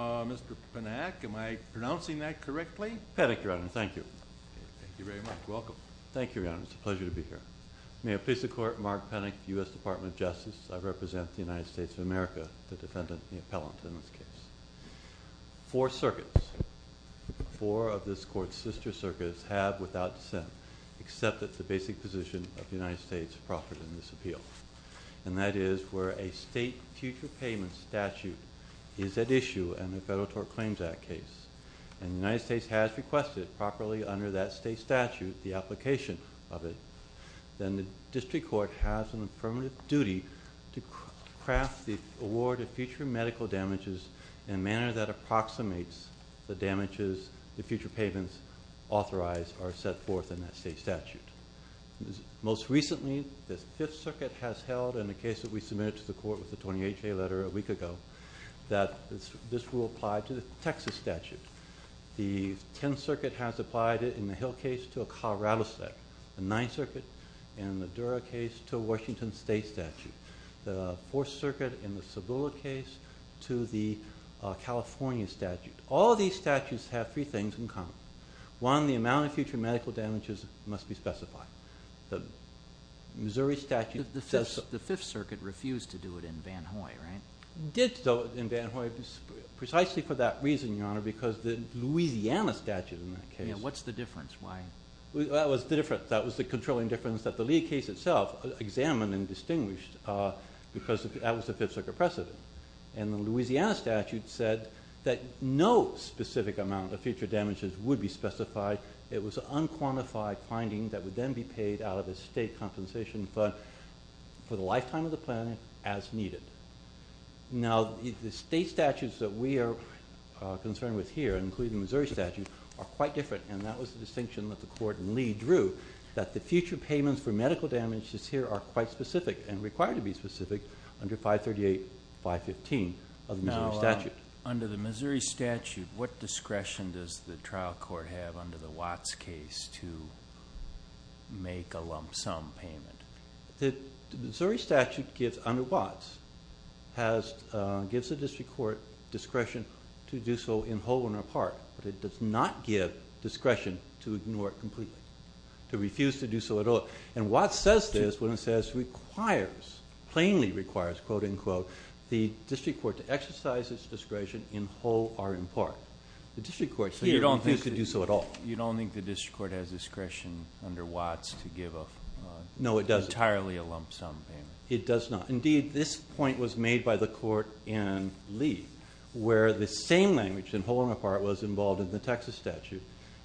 Mr. Panak, am I pronouncing that correctly? Panak, Your Honor. Thank you. Thank you very much. Welcome. Thank you, Your Honor. It's a pleasure to be here. May it please the Court, Mark Panak, U.S. Department of Justice. I represent the United States of America, the defendant, the appellant, in this case. Four circuits, four of this Court's sister circuits, have without dissent accepted the basic position of the United States proffered in this appeal, and that is where a state future payment statute is at issue in the Federal Tort Claims Act case. And the United States has requested, properly under that state statute, the application of it. Then the district court has a permanent duty to craft the award of future medical damages in a manner that approximates the damages the future payments authorize or set forth in that state statute. Most recently, the Fifth Circuit has held, in a case that we submitted to the Court with the 20HA letter a week ago, that this will apply to the Texas statute. The Tenth Circuit has applied it in the Hill case to a Colorado statute. The Ninth Circuit in the Dura case to a Washington state statute. The Fourth Circuit in the Cibola case to the California statute. All of these statutes have three things in common. One, the amount of future medical damages must be specified. The Missouri statute says... The Fifth Circuit refused to do it in Van Hoy, right? Did do it in Van Hoy precisely for that reason, Your Honor, because the Louisiana statute in that case... Yeah, what's the difference? Why? That was the difference. That was the controlling difference that the Lee case itself examined and distinguished because that was the Fifth Circuit precedent. And the Louisiana statute said that no specific amount of future damages would be specified. It was an unquantified finding that would then be paid out of a state compensation fund for the lifetime of the plan as needed. Now, the state statutes that we are concerned with here, including the Missouri statute, are quite different. And that was the distinction that the Court and Lee drew, that the future payments for medical damages here are quite specific and require to be specific under 538.515 of the Missouri statute. But under the Missouri statute, what discretion does the trial court have under the Watts case to make a lump sum payment? The Missouri statute, under Watts, gives the district court discretion to do so in whole and in part, but it does not give discretion to ignore it completely, to refuse to do so at all. And Watts says this when it says it requires, plainly requires, quote, unquote, the district court to exercise its discretion in whole or in part. You don't think the district court has discretion under Watts to give entirely a lump sum payment? It does not. Indeed, this point was made by the Court in Lee, where the same language in whole and in part was involved in the Texas statute.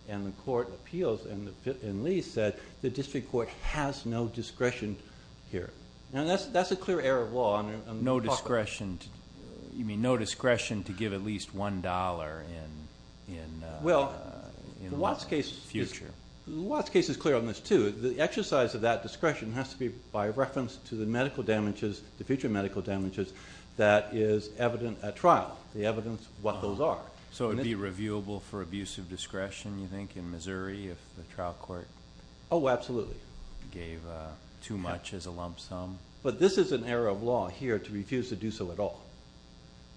And the court appeals, and Lee said, the district court has no discretion here. That's a clear error of law. No discretion to give at least $1 in the future. The Watts case is clear on this, too. The exercise of that discretion has to be by reference to the medical damages, the future medical damages, that is evident at trial, the evidence of what those are. So it would be reviewable for abuse of discretion, you think, in Missouri if the trial court gave too much as a lump sum? But this is an error of law here to refuse to do so at all.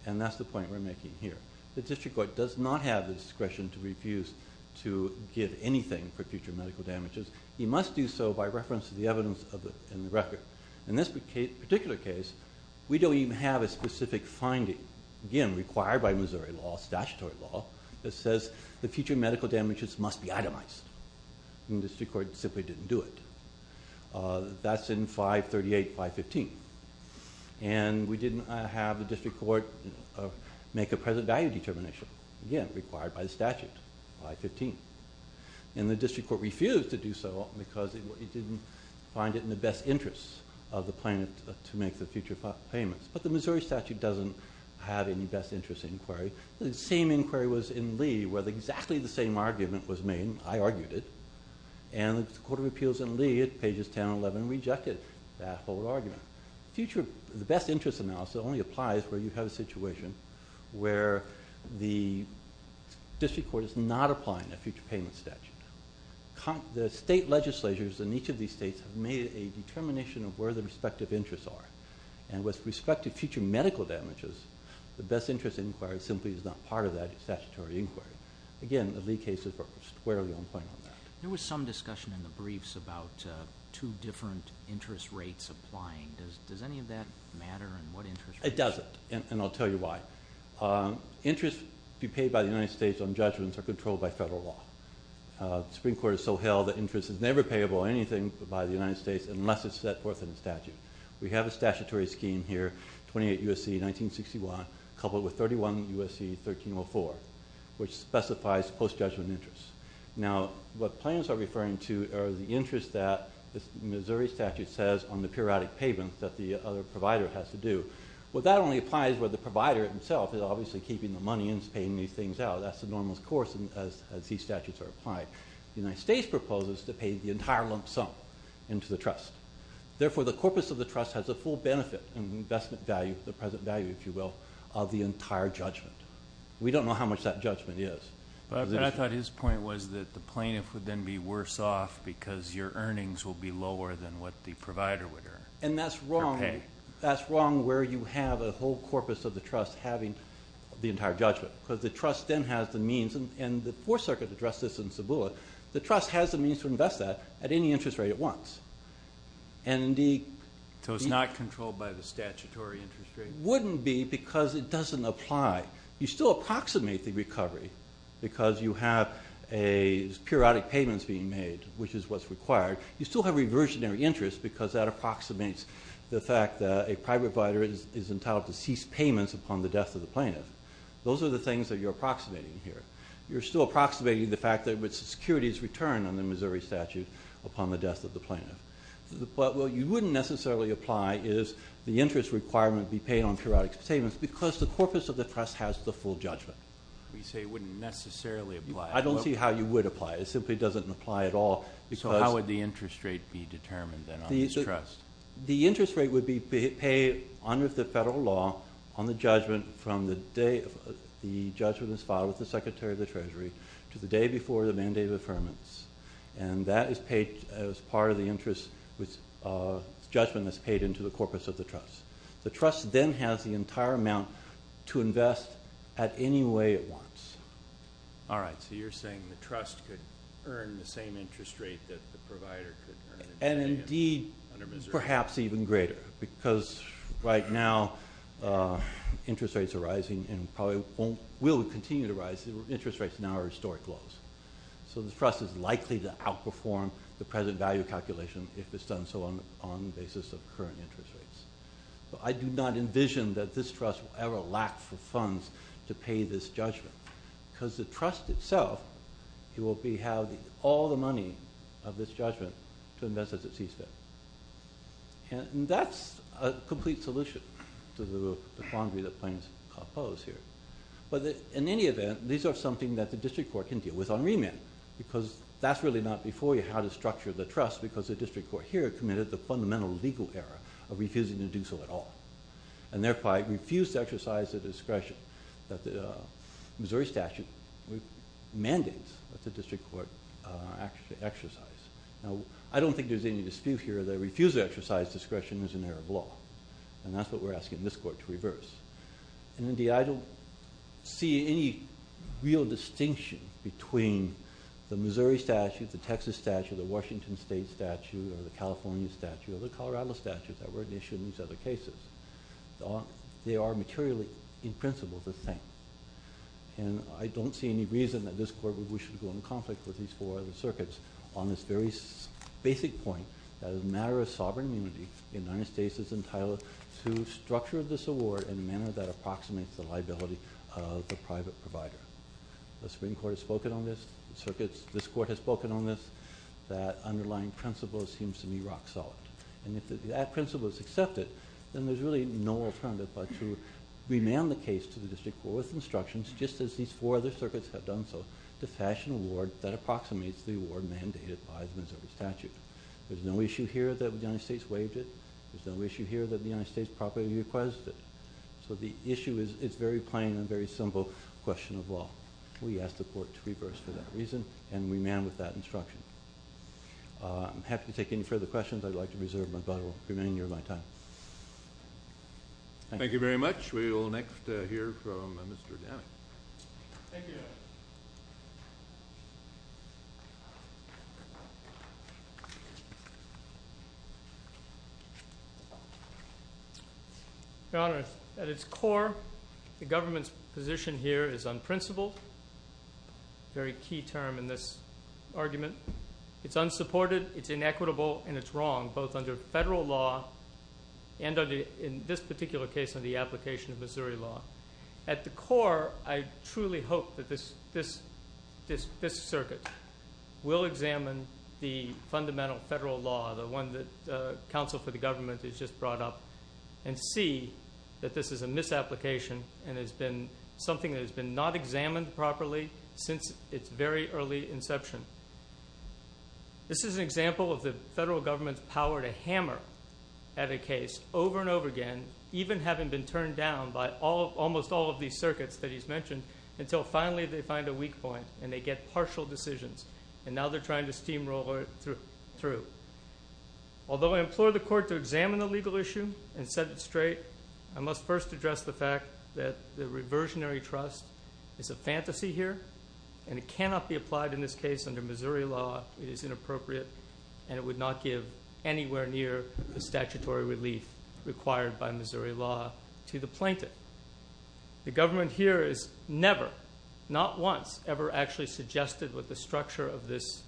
And that's the point we're making here. The district court does not have the discretion to refuse to give anything for future medical damages. It must do so by reference to the evidence in the record. In this particular case, we don't even have a specific finding, again, required by Missouri law, statutory law, that says the future medical damages must be itemized. And the district court simply didn't do it. That's in 538, 515. And we didn't have the district court make a present value determination, again, required by the statute, 515. And the district court refused to do so because it didn't find it in the best interest of the plaintiff to make the future payments. But the Missouri statute doesn't have any best interest inquiry. The same inquiry was in Lee where exactly the same argument was made. I argued it. And the Court of Appeals in Lee, at pages 10 and 11, rejected that whole argument. The best interest analysis only applies where you have a situation where the district court is not applying a future payment statute. The state legislatures in each of these states have made a determination of where the respective interests are. And with respect to future medical damages, the best interest inquiry simply is not part of that statutory inquiry. Again, the Lee case is squarely on point on that. There was some discussion in the briefs about two different interest rates applying. Does any of that matter? It doesn't, and I'll tell you why. Interests to be paid by the United States on judgments are controlled by federal law. The Supreme Court has so held that interest is never payable on anything by the United States unless it's set forth in a statute. We have a statutory scheme here, 28 U.S.C. 1961, coupled with 31 U.S.C. 1304, which specifies post-judgment interest. Now, what plans are referring to are the interests that the Missouri statute says on the periodic payments that the other provider has to do. Well, that only applies where the provider himself is obviously keeping the money and is paying these things out. That's the normal course as these statutes are applied. The United States proposes to pay the entire lump sum into the trust. Therefore, the corpus of the trust has a full benefit in the investment value, the present value, if you will, of the entire judgment. We don't know how much that judgment is. I thought his point was that the plaintiff would then be worse off because your earnings will be lower than what the provider would earn. And that's wrong where you have a whole corpus of the trust having the entire judgment. Because the trust then has the means, and the Fourth Circuit addressed this in Cebulla, the trust has the means to invest that at any interest rate at once. So it's not controlled by the statutory interest rate? Wouldn't be because it doesn't apply. You still approximate the recovery because you have periodic payments being made, which is what's required. You still have reversionary interest because that approximates the fact that a private provider is entitled to cease payments upon the death of the plaintiff. Those are the things that you're approximating here. You're still approximating the fact that security is returned under the Missouri statute upon the death of the plaintiff. What you wouldn't necessarily apply is the interest requirement be paid on periodic payments because the corpus of the trust has the full judgment. You say it wouldn't necessarily apply. I don't see how you would apply it. It simply doesn't apply at all. So how would the interest rate be determined then on this trust? The interest rate would be paid under the federal law on the judgment from the day the judgment is filed with the Secretary of the Treasury to the day before the mandate of affirmance. And that is paid as part of the judgment that's paid into the corpus of the trust. The trust then has the entire amount to invest at any way it wants. All right. So you're saying the trust could earn the same interest rate that the provider could earn under Missouri? And indeed perhaps even greater because right now interest rates are rising and probably will continue to rise. Interest rates now are historic lows. So the trust is likely to outperform the present value calculation if it's done so on the basis of current interest rates. But I do not envision that this trust will ever lack for funds to pay this judgment because the trust itself will have all the money of this judgment to invest as it sees fit. And that's a complete solution to the quandary that planes pose here. But in any event, these are something that the district court can deal with on remand because that's really not before you how to structure the trust because the district court here committed the fundamental legal error of refusing to do so at all and, therefore, refused to exercise the discretion that the Missouri statute mandates that the district court exercise. Now, I don't think there's any dispute here that a refusal to exercise discretion is an error of law, and that's what we're asking this court to reverse. And, indeed, I don't see any real distinction between the Missouri statute, the Texas statute, the Washington State statute or the California statute or the Colorado statute that were issued in these other cases. They are materially, in principle, the same. And I don't see any reason that this court would wish to go into conflict with these four other circuits on this very basic point that as a matter of sovereign immunity, the United States is entitled to structure this award in a manner that approximates the liability of the private provider. The Supreme Court has spoken on this, the circuits, this court has spoken on this, that underlying principle seems to be rock solid. And if that principle is accepted, then there's really no alternative but to remand the case to the district court with instructions, just as these four other circuits have done so, to fashion an award that approximates the award mandated by the Missouri statute. There's no issue here that the United States waived it. There's no issue here that the United States properly requested it. So the issue is very plain and very simple question of law. We ask the court to reverse for that reason and remand with that instruction. I'm happy to take any further questions. I'd like to reserve my time. Thank you very much. We will next hear from Mr. Gannon. Thank you. Your Honor, at its core, the government's position here is on principle, a very key term in this argument. It's unsupported, it's inequitable, and it's wrong, both under federal law and in this particular case under the application of Missouri law. At the core, I truly hope that this circuit will examine the fundamental federal law, the one that counsel for the government has just brought up, and see that this is a misapplication and has been something that has been not examined properly since its very early inception. This is an example of the federal government's power to hammer at a case over and over again, even having been turned down by almost all of these circuits that he's mentioned, until finally they find a weak point and they get partial decisions, and now they're trying to steamroll it through. Although I implore the court to examine the legal issue and set it straight, I must first address the fact that the reversionary trust is a fantasy here, and it cannot be applied in this case under Missouri law. It is inappropriate, and it would not give anywhere near the statutory relief required by Missouri law to the plaintiff. The government here has never, not once, ever actually suggested what the structure of this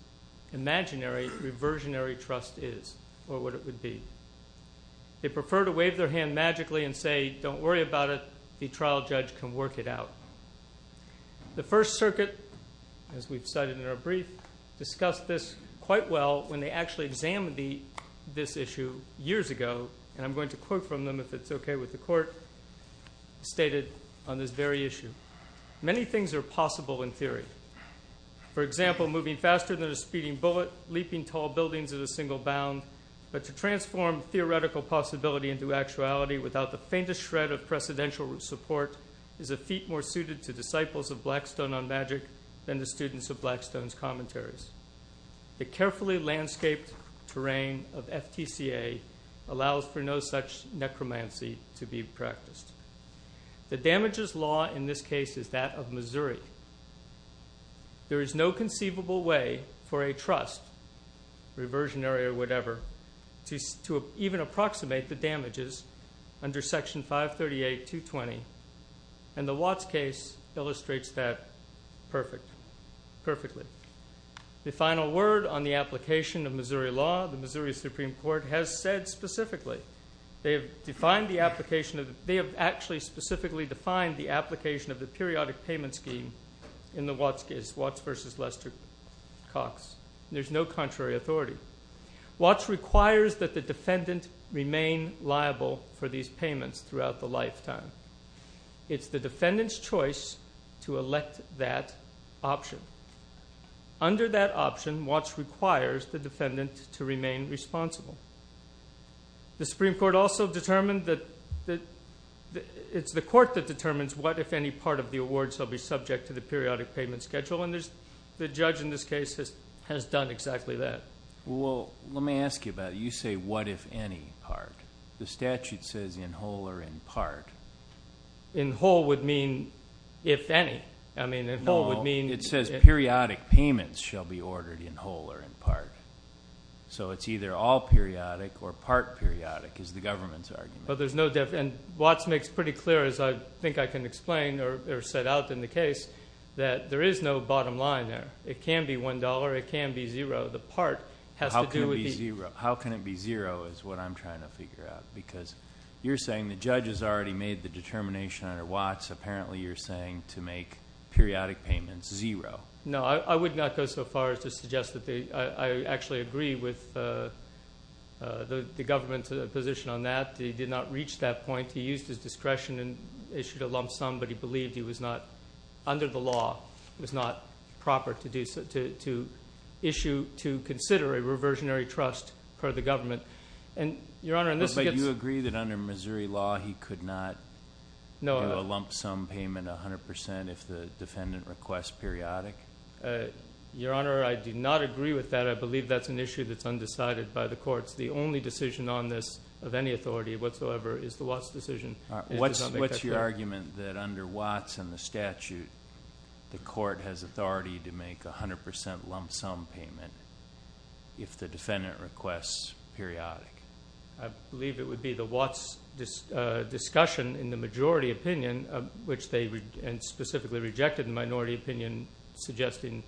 imaginary reversionary trust is or what it would be. They prefer to wave their hand magically and say, don't worry about it, the trial judge can work it out. The First Circuit, as we've cited in our brief, discussed this quite well when they actually examined this issue years ago, and I'm going to quote from them if it's okay with the court, stated on this very issue, many things are possible in theory. For example, moving faster than a speeding bullet, leaping tall buildings at a single bound, but to transform theoretical possibility into actuality without the faintest shred of precedential support is a feat more suited to disciples of Blackstone on magic than the students of Blackstone's commentaries. The carefully landscaped terrain of FTCA allows for no such necromancy to be practiced. The damages law in this case is that of Missouri. There is no conceivable way for a trust, reversionary or whatever, to even approximate the damages under Section 538.220, and the Watts case illustrates that perfectly. The final word on the application of Missouri law, the Missouri Supreme Court has said specifically, they have actually specifically defined the application of the periodic payment scheme in the Watts case, and there's no contrary authority. Watts requires that the defendant remain liable for these payments throughout the lifetime. It's the defendant's choice to elect that option. Under that option, Watts requires the defendant to remain responsible. The Supreme Court also determined that... It's the court that determines what, if any, part of the awards shall be subject to the periodic payment schedule, and the judge in this case has done exactly that. Well, let me ask you about it. You say what, if any, part. The statute says in whole or in part. In whole would mean if any. I mean, in whole would mean... No, it says periodic payments shall be ordered in whole or in part. So it's either all periodic or part periodic, is the government's argument. But there's no... And Watts makes pretty clear, as I think I can explain or set out in the case, that there is no bottom line there. It can be $1.00. It can be $0.00. The part has to do with the... How can it be $0.00 is what I'm trying to figure out. Because you're saying the judge has already made the determination under Watts. Apparently you're saying to make periodic payments $0.00. No, I would not go so far as to suggest that they... I actually agree with the government's position on that. He did not reach that point. He used his discretion and issued a lump sum, but he believed he was not, under the law, it was not proper to consider a reversionary trust per the government. But you agree that under Missouri law he could not do a lump sum payment 100% if the defendant requests periodic? Your Honor, I do not agree with that. I believe that's an issue that's undecided by the courts. The only decision on this of any authority whatsoever is the Watts decision. What's your argument that under Watts and the statute, the court has authority to make 100% lump sum payment if the defendant requests periodic? I believe it would be the Watts discussion in the majority opinion, which they specifically rejected the minority opinion suggesting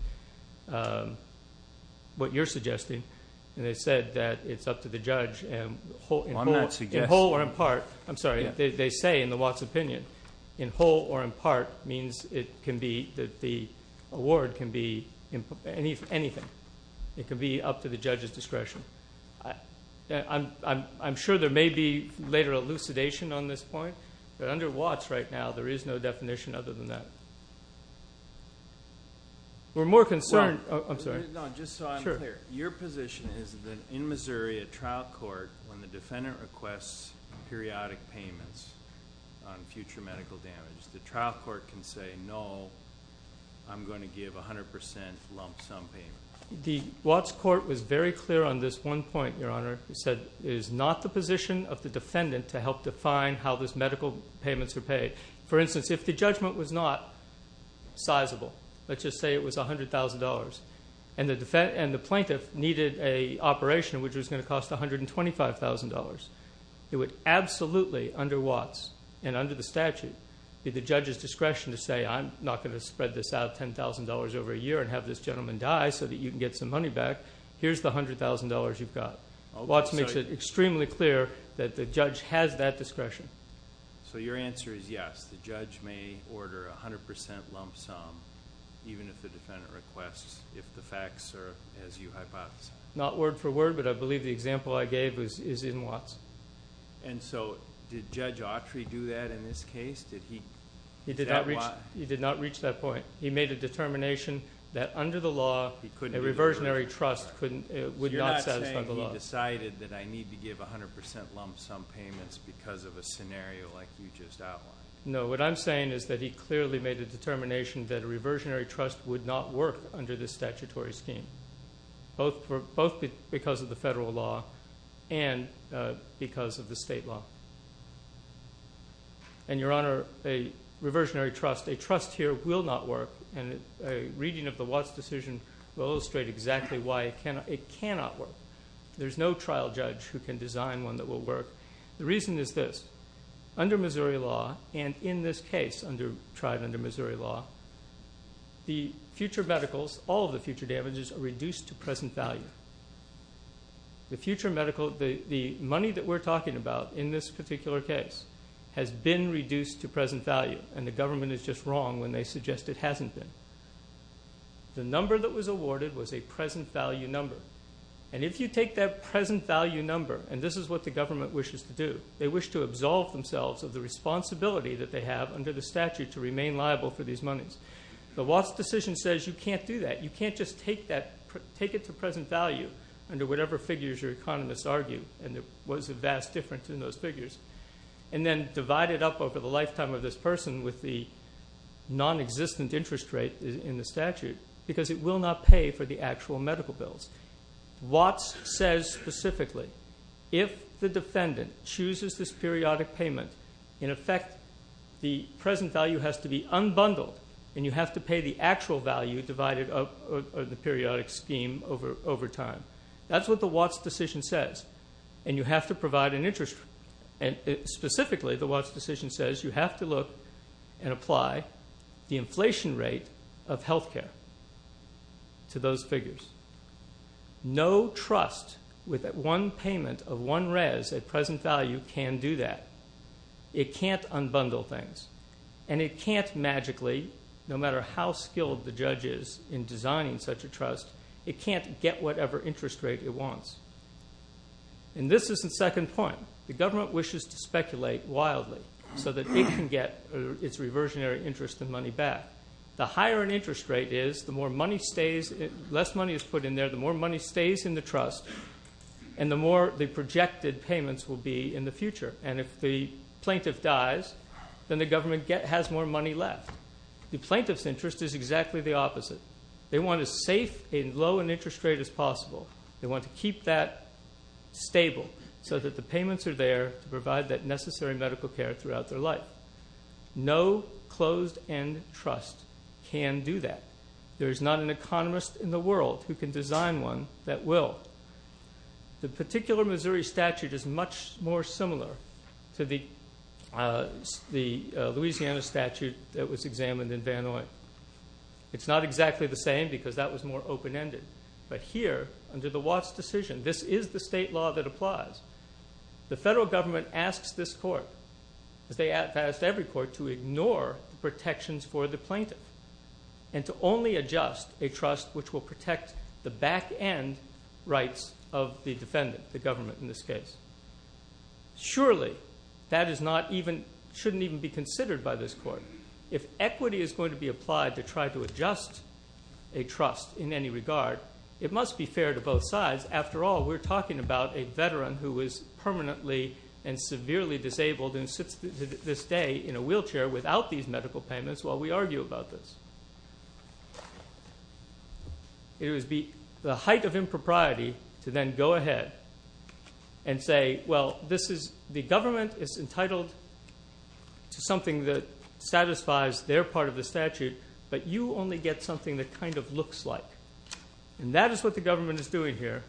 what you're suggesting. They said that it's up to the judge in whole or in part. I'm sorry, they say in the Watts opinion, in whole or in part means that the award can be anything. It can be up to the judge's discretion. I'm sure there may be later elucidation on this point, but under Watts right now there is no definition other than that. We're more concerned... Just so I'm clear, your position is that in Missouri, a trial court, when the defendant requests periodic payments on future medical damage, the trial court can say, no, I'm going to give 100% lump sum payment. The Watts court was very clear on this one point, Your Honor. It said it is not the position of the defendant to help define how those medical payments are paid. For instance, if the judgment was not sizable, let's just say it was $100,000, and the plaintiff needed an operation which was going to cost $125,000, it would absolutely, under Watts and under the statute, be the judge's discretion to say, I'm not going to spread this out $10,000 over a year and have this gentleman die so that you can get some money back. Here's the $100,000 you've got. Watts makes it extremely clear that the judge has that discretion. Your answer is yes, the judge may order 100% lump sum even if the defendant requests, if the facts are as you hypothesized. Not word for word, but I believe the example I gave is in Watts. Did Judge Autry do that in this case? He did not reach that point. He made a determination that under the law, a reversionary trust would not satisfy the law. You're not saying he decided that I need to give 100% lump sum payments because of a scenario like you just outlined? No, what I'm saying is that he clearly made a determination that a reversionary trust would not work under this statutory scheme, both because of the federal law and because of the state law. Your Honor, a reversionary trust, a trust here will not work, and a reading of the Watts decision will illustrate exactly why it cannot work. There's no trial judge who can design one that will work. The reason is this. Under Missouri law, and in this case tried under Missouri law, the future medicals, all of the future damages are reduced to present value. The money that we're talking about in this particular case has been reduced to present value, and the government is just wrong when they suggest it hasn't been. The number that was awarded was a present value number, and if you take that present value number, and this is what the government wishes to do, they wish to absolve themselves of the responsibility that they have under the statute to remain liable for these monies. The Watts decision says you can't do that. You can't just take it to present value under whatever figures your economists argue, and there was a vast difference in those figures, and then divide it up over the lifetime of this person with the nonexistent interest rate in the statute because it will not pay for the actual medical bills. Watts says specifically if the defendant chooses this periodic payment, in effect the present value has to be unbundled, and you have to pay the actual value divided up in the periodic scheme over time. That's what the Watts decision says, and you have to provide an interest rate. Specifically, the Watts decision says you have to look and apply the inflation rate of health care to those figures. No trust with one payment of one res at present value can do that. It can't unbundle things, and it can't magically, no matter how skilled the judge is in designing such a trust, it can't get whatever interest rate it wants, and this is the second point. The government wishes to speculate wildly so that it can get its reversionary interest and money back. The higher an interest rate is, the more money stays, the less money is put in there, the more money stays in the trust, and the more the projected payments will be in the future, and if the plaintiff dies, then the government has more money left. The plaintiff's interest is exactly the opposite. They want as safe and low an interest rate as possible. They want to keep that stable so that the payments are there to provide that necessary medical care throughout their life. No closed-end trust can do that. There is not an economist in the world who can design one that will. The particular Missouri statute is much more similar to the Louisiana statute that was examined in Van Noy. It's not exactly the same because that was more open-ended, but here, under the Watts decision, this is the state law that applies. The federal government asks this court, as they ask every court, to ignore protections for the plaintiff and to only adjust a trust which will protect the back-end rights of the defendant, the government in this case. Surely that shouldn't even be considered by this court. If equity is going to be applied to try to adjust a trust in any regard, it must be fair to both sides. After all, we're talking about a veteran who is permanently and severely disabled and sits to this day in a wheelchair without these medical payments while we argue about this. It would be the height of impropriety to then go ahead and say, well, the government is entitled to something that satisfies their part of the statute, but you only get something that kind of looks like. That is what the government is doing here.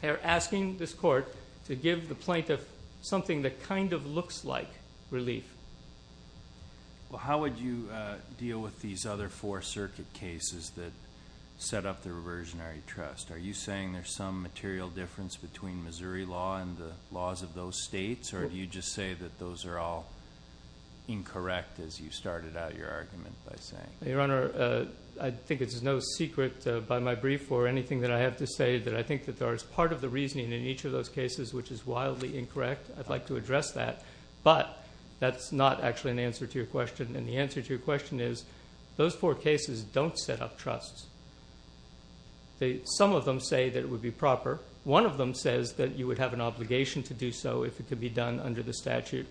They are asking this court to give the plaintiff something that kind of looks like relief. Well, how would you deal with these other four circuit cases that set up the reversionary trust? Are you saying there's some material difference between Missouri law and the laws of those states, or do you just say that those are all incorrect as you started out your argument by saying? Your Honor, I think it's no secret by my brief or anything that I have to say that I think that there is part of the reasoning in each of those cases which is wildly incorrect. I'd like to address that, but that's not actually an answer to your question, and the answer to your question is those four cases don't set up trusts. Some of them say that it would be proper. One of them says that you would have an obligation to do so if it could be done under the statute.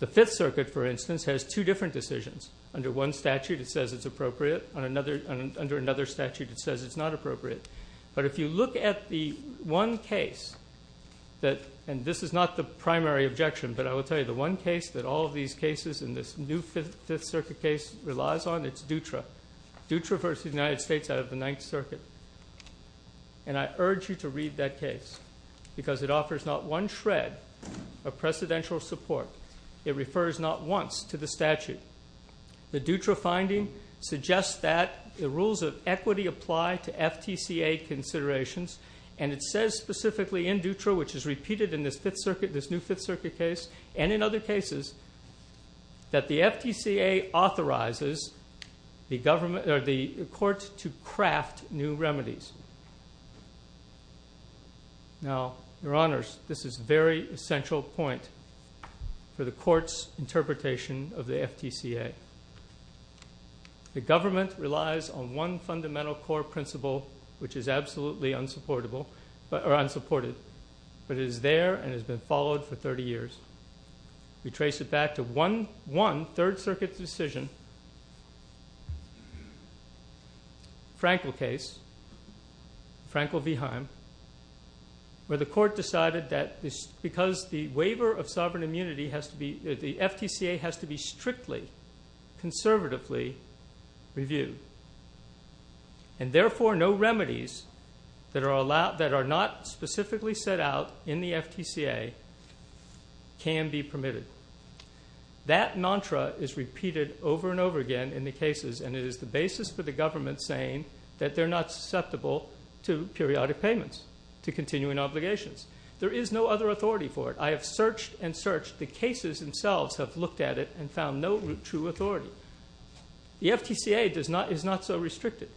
The Fifth Circuit, for instance, has two different decisions. Under one statute, it says it's appropriate. Under another statute, it says it's not appropriate. But if you look at the one case that, and this is not the primary objection, but I will tell you the one case that all of these cases in this new Fifth Circuit case relies on, it's Dutra. Dutra versus the United States out of the Ninth Circuit, and I urge you to read that case because it offers not one shred of precedential support. It refers not once to the statute. The Dutra finding suggests that the rules of equity apply to FTCA considerations, and it says specifically in Dutra, which is repeated in this Fifth Circuit, this new Fifth Circuit case, and in other cases, that the FTCA authorizes the court to craft new remedies. Now, Your Honors, this is a very essential point for the court's interpretation of the FTCA. The government relies on one fundamental core principle, which is absolutely unsupported, but it is there and has been followed for 30 years. We trace it back to one Third Circuit decision, Frankel case, Frankel v. Heim, where the court decided that because the waiver of sovereign immunity has to be, the FTCA has to be strictly, conservatively reviewed, and therefore no remedies that are not specifically set out in the FTCA can be permitted. That mantra is repeated over and over again in the cases, and it is the basis for the government saying that they're not susceptible to periodic payments, to continuing obligations. There is no other authority for it. I have searched and searched. The cases themselves have looked at it and found no true authority. The FTCA is not so restricted.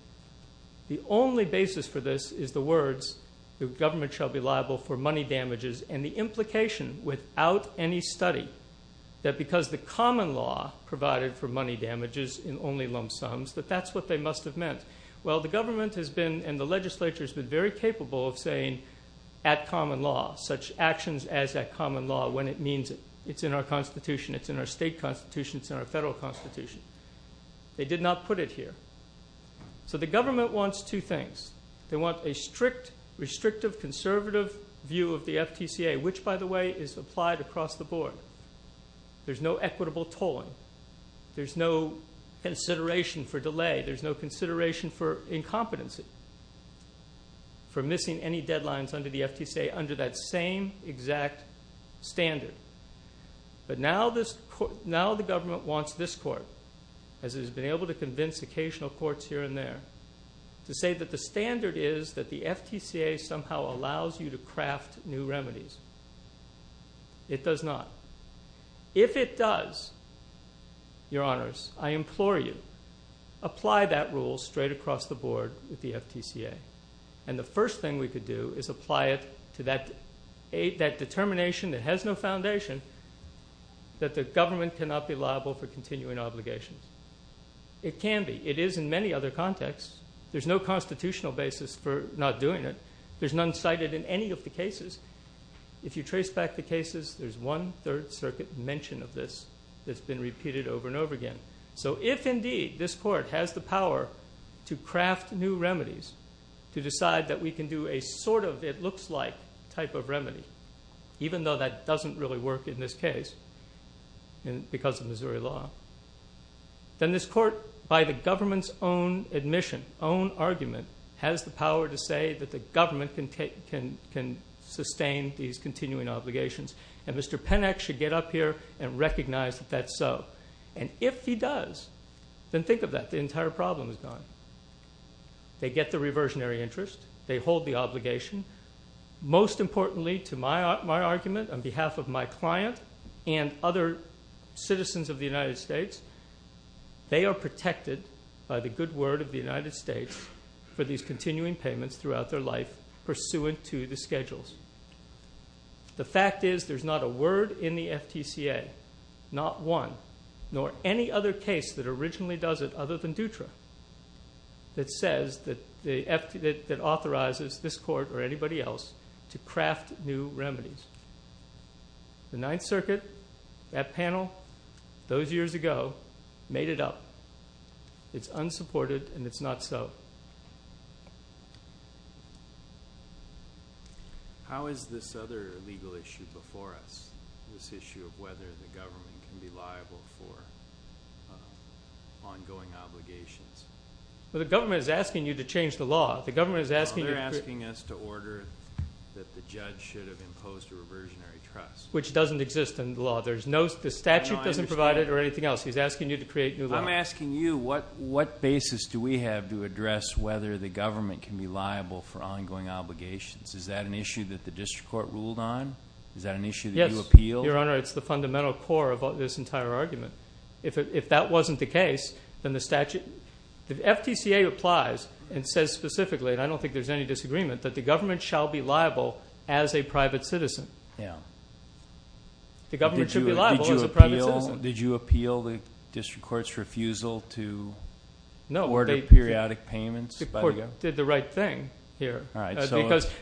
The only basis for this is the words, the government shall be liable for money damages, and the implication, without any study, that because the common law provided for money damages in only lump sums, that that's what they must have meant. Well, the government has been, and the legislature, has been very capable of saying, at common law, such actions as at common law, when it means it. It's in our Constitution. It's in our state Constitution. It's in our federal Constitution. They did not put it here. So the government wants two things. They want a strict, restrictive, conservative view of the FTCA, which, by the way, is applied across the board. There's no equitable tolling. There's no consideration for delay. There's no consideration for incompetency, for missing any deadlines under the FTCA under that same exact standard. But now the government wants this court, as it has been able to convince occasional courts here and there, to say that the standard is that the FTCA somehow allows you to craft new remedies. It does not. If it does, Your Honors, I implore you, apply that rule straight across the board with the FTCA. And the first thing we could do is apply it to that determination that has no foundation that the government cannot be liable for continuing obligations. It can be. It is in many other contexts. There's no constitutional basis for not doing it. There's none cited in any of the cases. If you trace back the cases, there's one Third Circuit mention of this that's been repeated over and over again. So if, indeed, this court has the power to craft new remedies, to decide that we can do a sort-of-it-looks-like type of remedy, even though that doesn't really work in this case because of Missouri law, then this court, by the government's own admission, own argument, has the power to say that the government can sustain these continuing obligations. And Mr. Pennack should get up here and recognize that that's so. And if he does, then think of that. The entire problem is gone. They get the reversionary interest. They hold the obligation. Most importantly, to my argument, on behalf of my client and other citizens of the United States, they are protected by the good word of the United States for these continuing payments throughout their life, pursuant to the schedules. The fact is there's not a word in the FTCA, not one, nor any other case that originally does it other than Dutra, that authorizes this court or anybody else to craft new remedies. The Ninth Circuit, that panel, those years ago, made it up. It's unsupported, and it's not so. How is this other legal issue before us, this issue of whether the government can be liable for ongoing obligations? Well, the government is asking you to change the law. The government is asking you to create... Which doesn't exist in the law. The statute doesn't provide it or anything else. He's asking you to create new law. I'm asking you what basis do we have to address whether the government can be liable for ongoing obligations? Is that an issue that the district court ruled on? Is that an issue that you appealed? Yes, Your Honor. It's the fundamental core of this entire argument. If that wasn't the case, then the statute... The FTCA applies and says specifically, and I don't think there's any disagreement, that the government shall be liable as a private citizen. The government should be liable as a private citizen. Did you appeal the district court's refusal to order periodic payments? The court did the right thing here.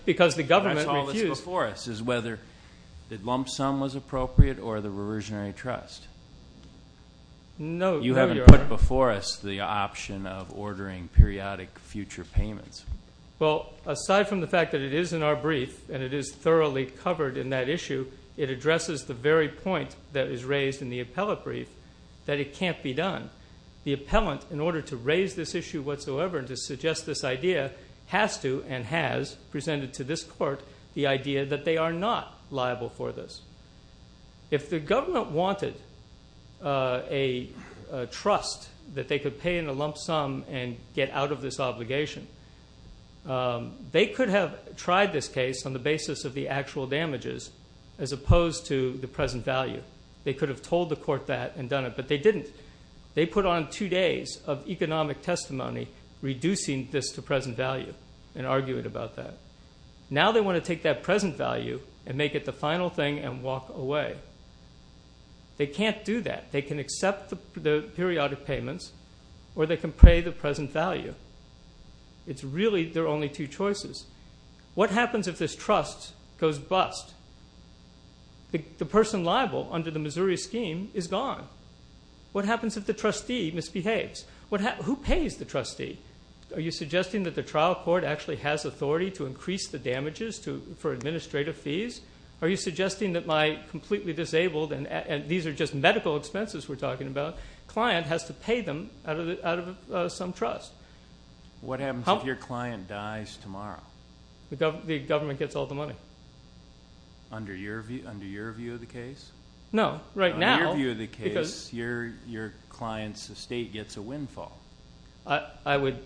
Because the government refused. That's all that's before us, is whether the lump sum was appropriate or the reversionary trust. No, Your Honor. You haven't put before us the option of ordering periodic future payments. Well, aside from the fact that it is in our brief and it is thoroughly covered in that issue, it addresses the very point that is raised in the appellate brief, that it can't be done. The appellant, in order to raise this issue whatsoever and to suggest this idea, has to and has presented to this court the idea that they are not liable for this. If the government wanted a trust that they could pay in a lump sum and get out of this obligation, they could have tried this case on the basis of the actual damages as opposed to the present value. They could have told the court that and done it, but they didn't. They put on two days of economic testimony reducing this to present value and arguing about that. Now they want to take that present value and make it the final thing and walk away. They can't do that. They can accept the periodic payments or they can pay the present value. It's really there are only two choices. What happens if this trust goes bust? The person liable under the Missouri scheme is gone. What happens if the trustee misbehaves? Who pays the trustee? Are you suggesting that the trial court actually has authority to increase the damages for administrative fees? Are you suggesting that my completely disabled and these are just medical expenses we're talking about, the client has to pay them out of some trust? What happens if your client dies tomorrow? The government gets all the money. Under your view of the case? No, right now. Under your view of the case, your client's estate gets a windfall. I would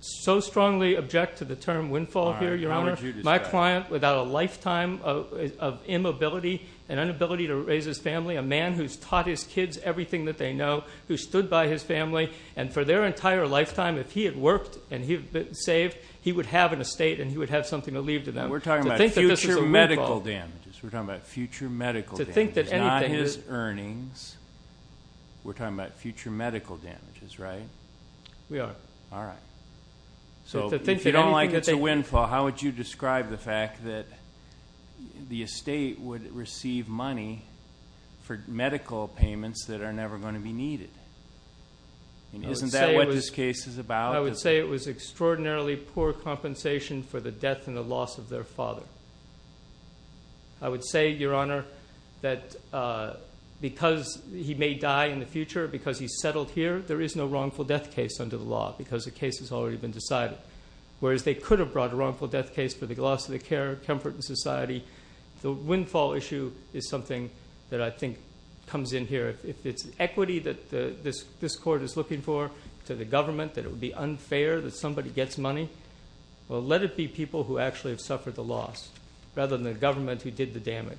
so strongly object to the term windfall here, Your Honor. How would you describe it? My client without a lifetime of immobility and inability to raise his family, a man who's taught his kids everything that they know, who stood by his family, and for their entire lifetime, if he had worked and he had been saved, he would have an estate and he would have something to leave to them. We're talking about future medical damages. We're talking about future medical damages, not his earnings. We're talking about future medical damages, right? We are. All right. So if you don't like it's a windfall, how would you describe the fact that the estate would receive money for medical payments that are never going to be needed? Isn't that what this case is about? I would say it was extraordinarily poor compensation for the death and the loss of their father. I would say, Your Honor, that because he may die in the future, because he's settled here, there is no wrongful death case under the law because the case has already been decided. Whereas they could have brought a wrongful death case for the loss of the care, comfort, and society. The windfall issue is something that I think comes in here. If it's equity that this court is looking for to the government, that it would be unfair that somebody gets money, well, let it be people who actually have suffered the loss rather than the government who did the damage.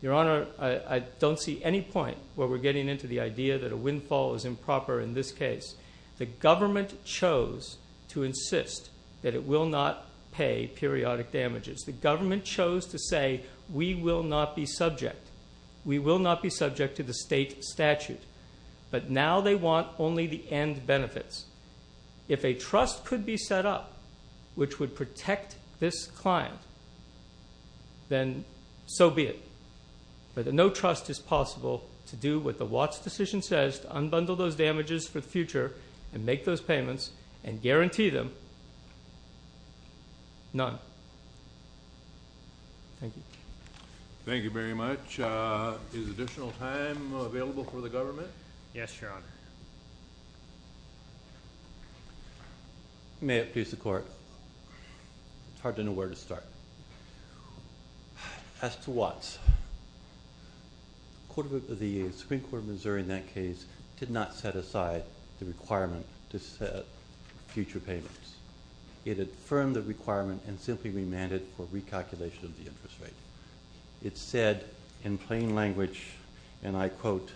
Your Honor, I don't see any point where we're getting into the idea that a windfall is improper in this case. The government chose to insist that it will not pay periodic damages. The government chose to say, We will not be subject. We will not be subject to the state statute. But now they want only the end benefits. If a trust could be set up which would protect this client, then so be it. But no trust is possible to do what the Watts decision says, to unbundle those damages for the future and make those payments and guarantee them none. Thank you. Thank you very much. Is additional time available for the government? Yes, Your Honor. May it please the Court. It's hard to know where to start. As to Watts, the Supreme Court of Missouri in that case did not set aside the requirement to set future payments. It affirmed the requirement and simply remanded for recalculation of the interest rate. It said in plain language, and I quote,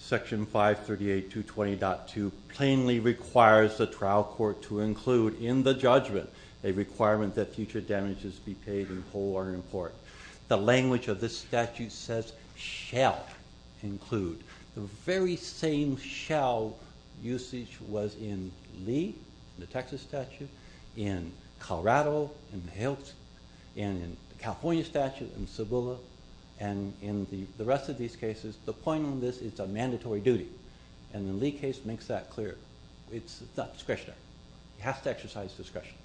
Section 538.2.20.2 plainly requires the trial court to include in the judgment a requirement that future damages be paid in whole or in part. The language of this statute says shall include. The very same shall usage was in Lee, the Texas statute, in Colorado, in the California statute, and in the rest of these cases. The point on this is it's a mandatory duty. And the Lee case makes that clear. It's not discretionary. It has to exercise discretion.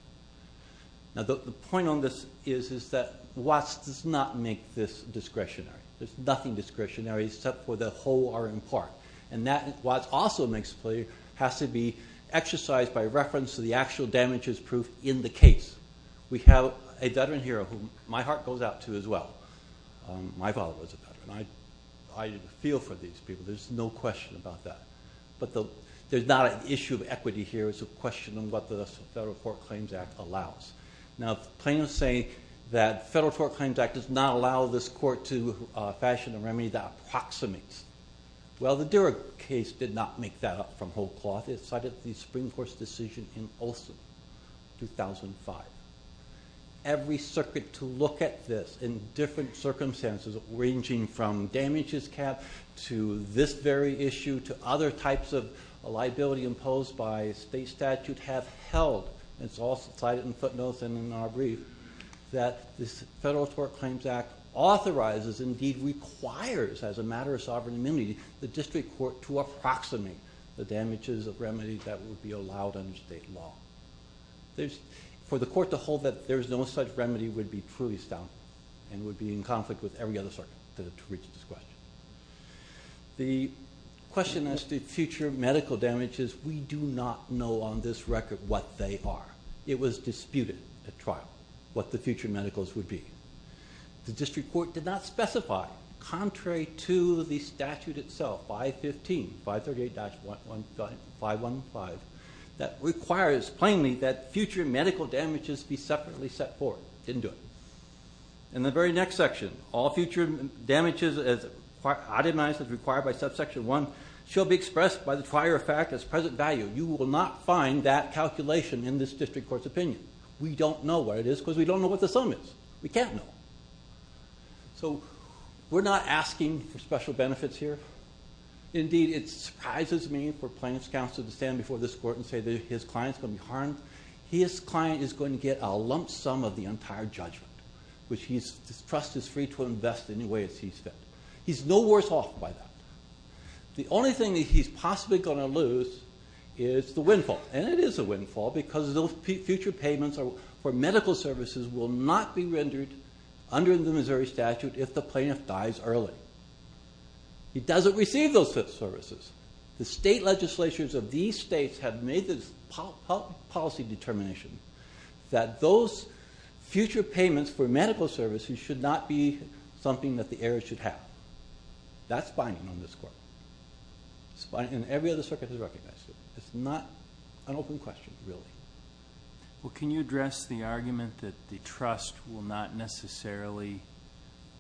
The point on this is that Watts does not make this discretionary. There's nothing discretionary except for the whole or in part. And that, Watts also makes clear, has to be exercised by reference to the actual damages proof in the case. We have a veteran here who my heart goes out to as well. My father was a veteran. I feel for these people. There's no question about that. But there's not an issue of equity here. It's a question of what the Federal Court Claims Act allows. Now, plaintiffs say that Federal Court Claims Act does not allow this court to fashion a remedy that approximates. Well, the Dirig case did not make that up from whole cloth. It cited the Supreme Court's decision in Olson, 2005. Every circuit to look at this in different circumstances, ranging from damages cap to this very issue to other types of liability imposed by state statute, have held, and it's all cited in footnotes and in our brief, that this Federal Court Claims Act authorizes, indeed requires as a matter of sovereign amenity, the district court to approximate the damages of remedies that would be allowed under state law. For the court to hold that there's no such remedy would be truly astounding and would be in conflict with every other circuit to reach this question. The question as to future medical damages, we do not know on this record what they are. It was disputed at trial what the future medicals would be. The district court did not specify, contrary to the statute itself, 515, 538-515, that requires plainly that future medical damages be separately set forth. It didn't do it. In the very next section, all future damages as optimized as required by subsection 1, shall be expressed by the prior effect as present value. You will not find that calculation in this district court's opinion. We don't know what it is because we don't know what the sum is. We can't know. So we're not asking for special benefits here. Indeed, it surprises me for plaintiff's counsel to stand before this court and say that his client's going to be harmed. His client is going to get a lump sum of the entire judgment, which his trust is free to invest any way it sees fit. He's no worse off by that. The only thing that he's possibly going to lose is the windfall. And it is a windfall because those future payments for medical services will not be rendered under the Missouri statute if the plaintiff dies early. He doesn't receive those services. The state legislatures of these states have made this policy determination that those future payments for medical services should not be something that the heirs should have. That's binding on this court. And every other circuit has recognized it. It's not an open question, really. Well, can you address the argument that the trust will not necessarily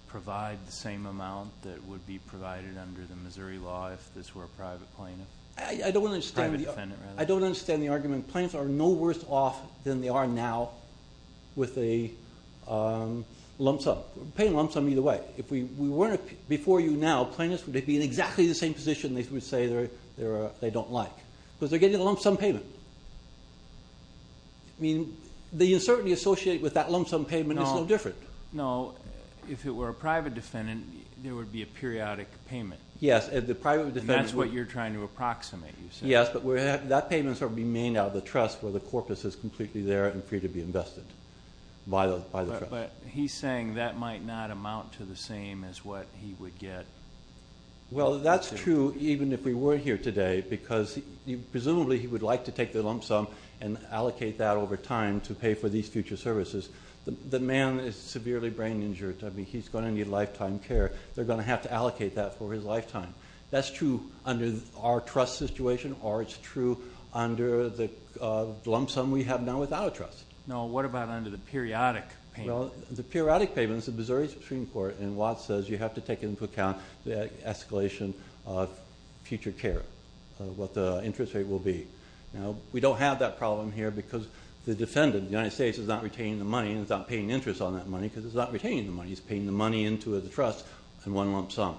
provide the same amount that would be provided under the Missouri law if this were a private plaintiff? I don't understand the argument. Plaintiffs are no worse off than they are now with a lump sum. Paying a lump sum either way. Before you now, plaintiffs would be in exactly the same position they would say they don't like because they're getting a lump sum payment. The uncertainty associated with that lump sum payment is no different. No. If it were a private defendant, there would be a periodic payment. That's what you're trying to approximate, you said. Yes, but that payment would be made out of the trust where the corpus is completely there and free to be invested. But he's saying that might not amount to the same as what he would get. Well, that's true even if we were here today because presumably he would like to take the lump sum and allocate that over time to pay for these future services. The man is severely brain injured. He's going to need lifetime care. They're going to have to allocate that for his lifetime. That's true under our trust situation or it's true under the lump sum we have now without a trust. No, what about under the periodic payment? Well, the periodic payment is the Missouri Supreme Court, and Watts says you have to take into account the escalation of future care, what the interest rate will be. Now, we don't have that problem here because the defendant, the United States, is not retaining the money and is not paying interest on that money because it's not retaining the money. He's paying the money into the trust in one lump sum.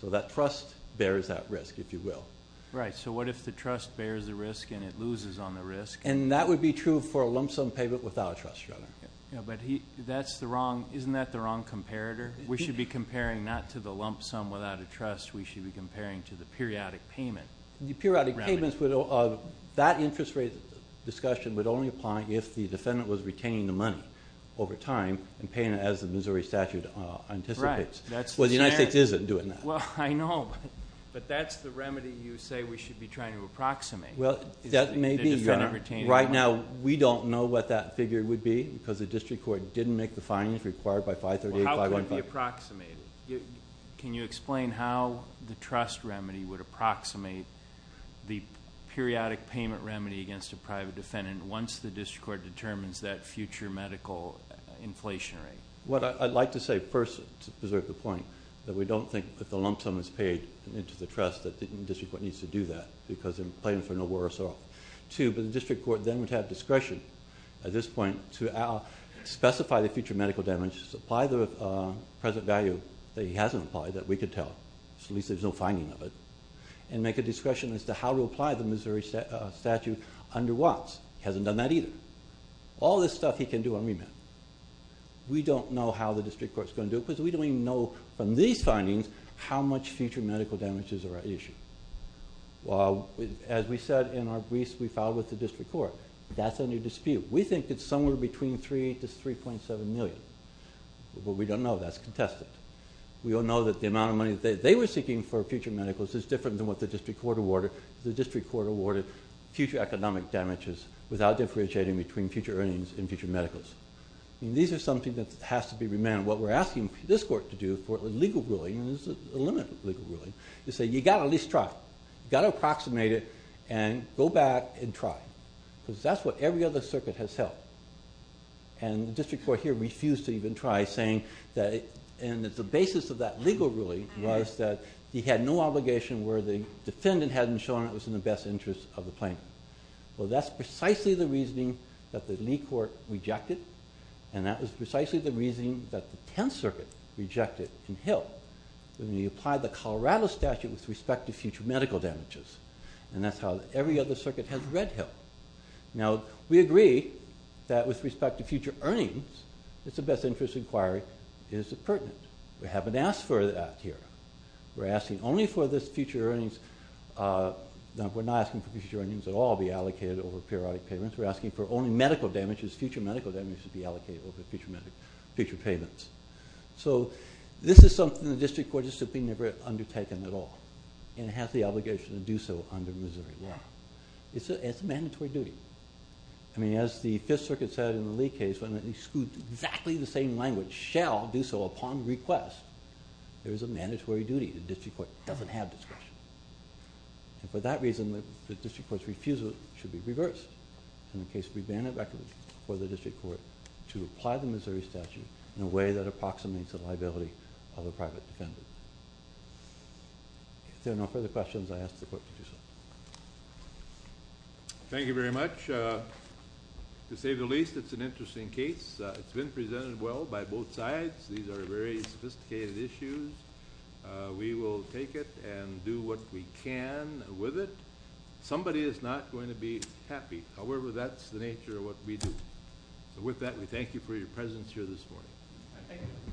So that trust bears that risk, if you will. Right, so what if the trust bears the risk and it loses on the risk? And that would be true for a lump sum payment without a trust, rather. But isn't that the wrong comparator? We should be comparing not to the lump sum without a trust. We should be comparing to the periodic payment. The periodic payment, that interest rate discussion would only apply if the defendant was retaining the money over time and paying it as the Missouri statute anticipates. Well, the United States isn't doing that. Well, I know, but that's the remedy you say we should be trying to approximate. Well, that may be. Right now, we don't know what that figure would be because the district court didn't make the findings required by 538. How could it be approximated? Can you explain how the trust remedy would approximate the periodic payment remedy against a private defendant once the district court determines that future medical inflation rate? What I'd like to say first, to preserve the point, that we don't think that the lump sum is paid into the trust that the district court needs to do that because they're paying for no worse or two, but the district court then would have discretion at this point to specify the future medical damages, apply the present value that he hasn't applied that we could tell, so at least there's no finding of it, and make a discretion as to how to apply the Missouri statute under what. He hasn't done that either. All this stuff he can do on remand. We don't know how the district court's going to do it because we don't even know from these findings how much future medical damages are at issue. As we said in our briefs we filed with the district court. That's a new dispute. We think it's somewhere between 3 to 3.7 million, but we don't know. That's contested. We don't know that the amount of money they were seeking for future medicals is different than what the district court awarded. The district court awarded future economic damages without differentiating between future earnings and future medicals. These are something that has to be remanded. What we're asking this court to do for legal ruling, and there's a limit of legal ruling, is say you've got to at least try. You've got to approximate it and go back and try. Because that's what every other circuit has held. The district court here refused to even try, saying that the basis of that legal ruling was that he had no obligation where the defendant hadn't shown it was in the best interest of the plaintiff. That's precisely the reasoning that the Lee court rejected, and that was precisely the reasoning that the Tenth Circuit rejected and held. We applied the Colorado statute with respect to future medical damages, and that's how every other circuit has read him. Now, we agree that with respect to future earnings, it's a best interest inquiry. It is pertinent. We haven't asked for that here. We're asking only for this future earnings. We're not asking for future earnings at all be allocated over periodic payments. We're asking for only medical damages, future medical damages be allocated over future payments. This is something the district court has never undertaken at all, and it has the obligation to do so under Missouri law. It's a mandatory duty. As the Fifth Circuit said in the Lee case, when it excludes exactly the same language, shall do so upon request, there is a mandatory duty. The district court doesn't have discretion. For that reason, the district court's refusal should be reversed. In the case of revandit record, the district court should apply the Missouri statute in a way that approximates the liability of a private defendant. If there are no further questions, I ask the court to do so. Thank you very much. To say the least, it's an interesting case. It's been presented well by both sides. These are very sophisticated issues. We will take it and do what we can with it. Somebody is not going to be happy. However, that's the nature of what we do. With that, we thank you for your presence here this morning. Thank you.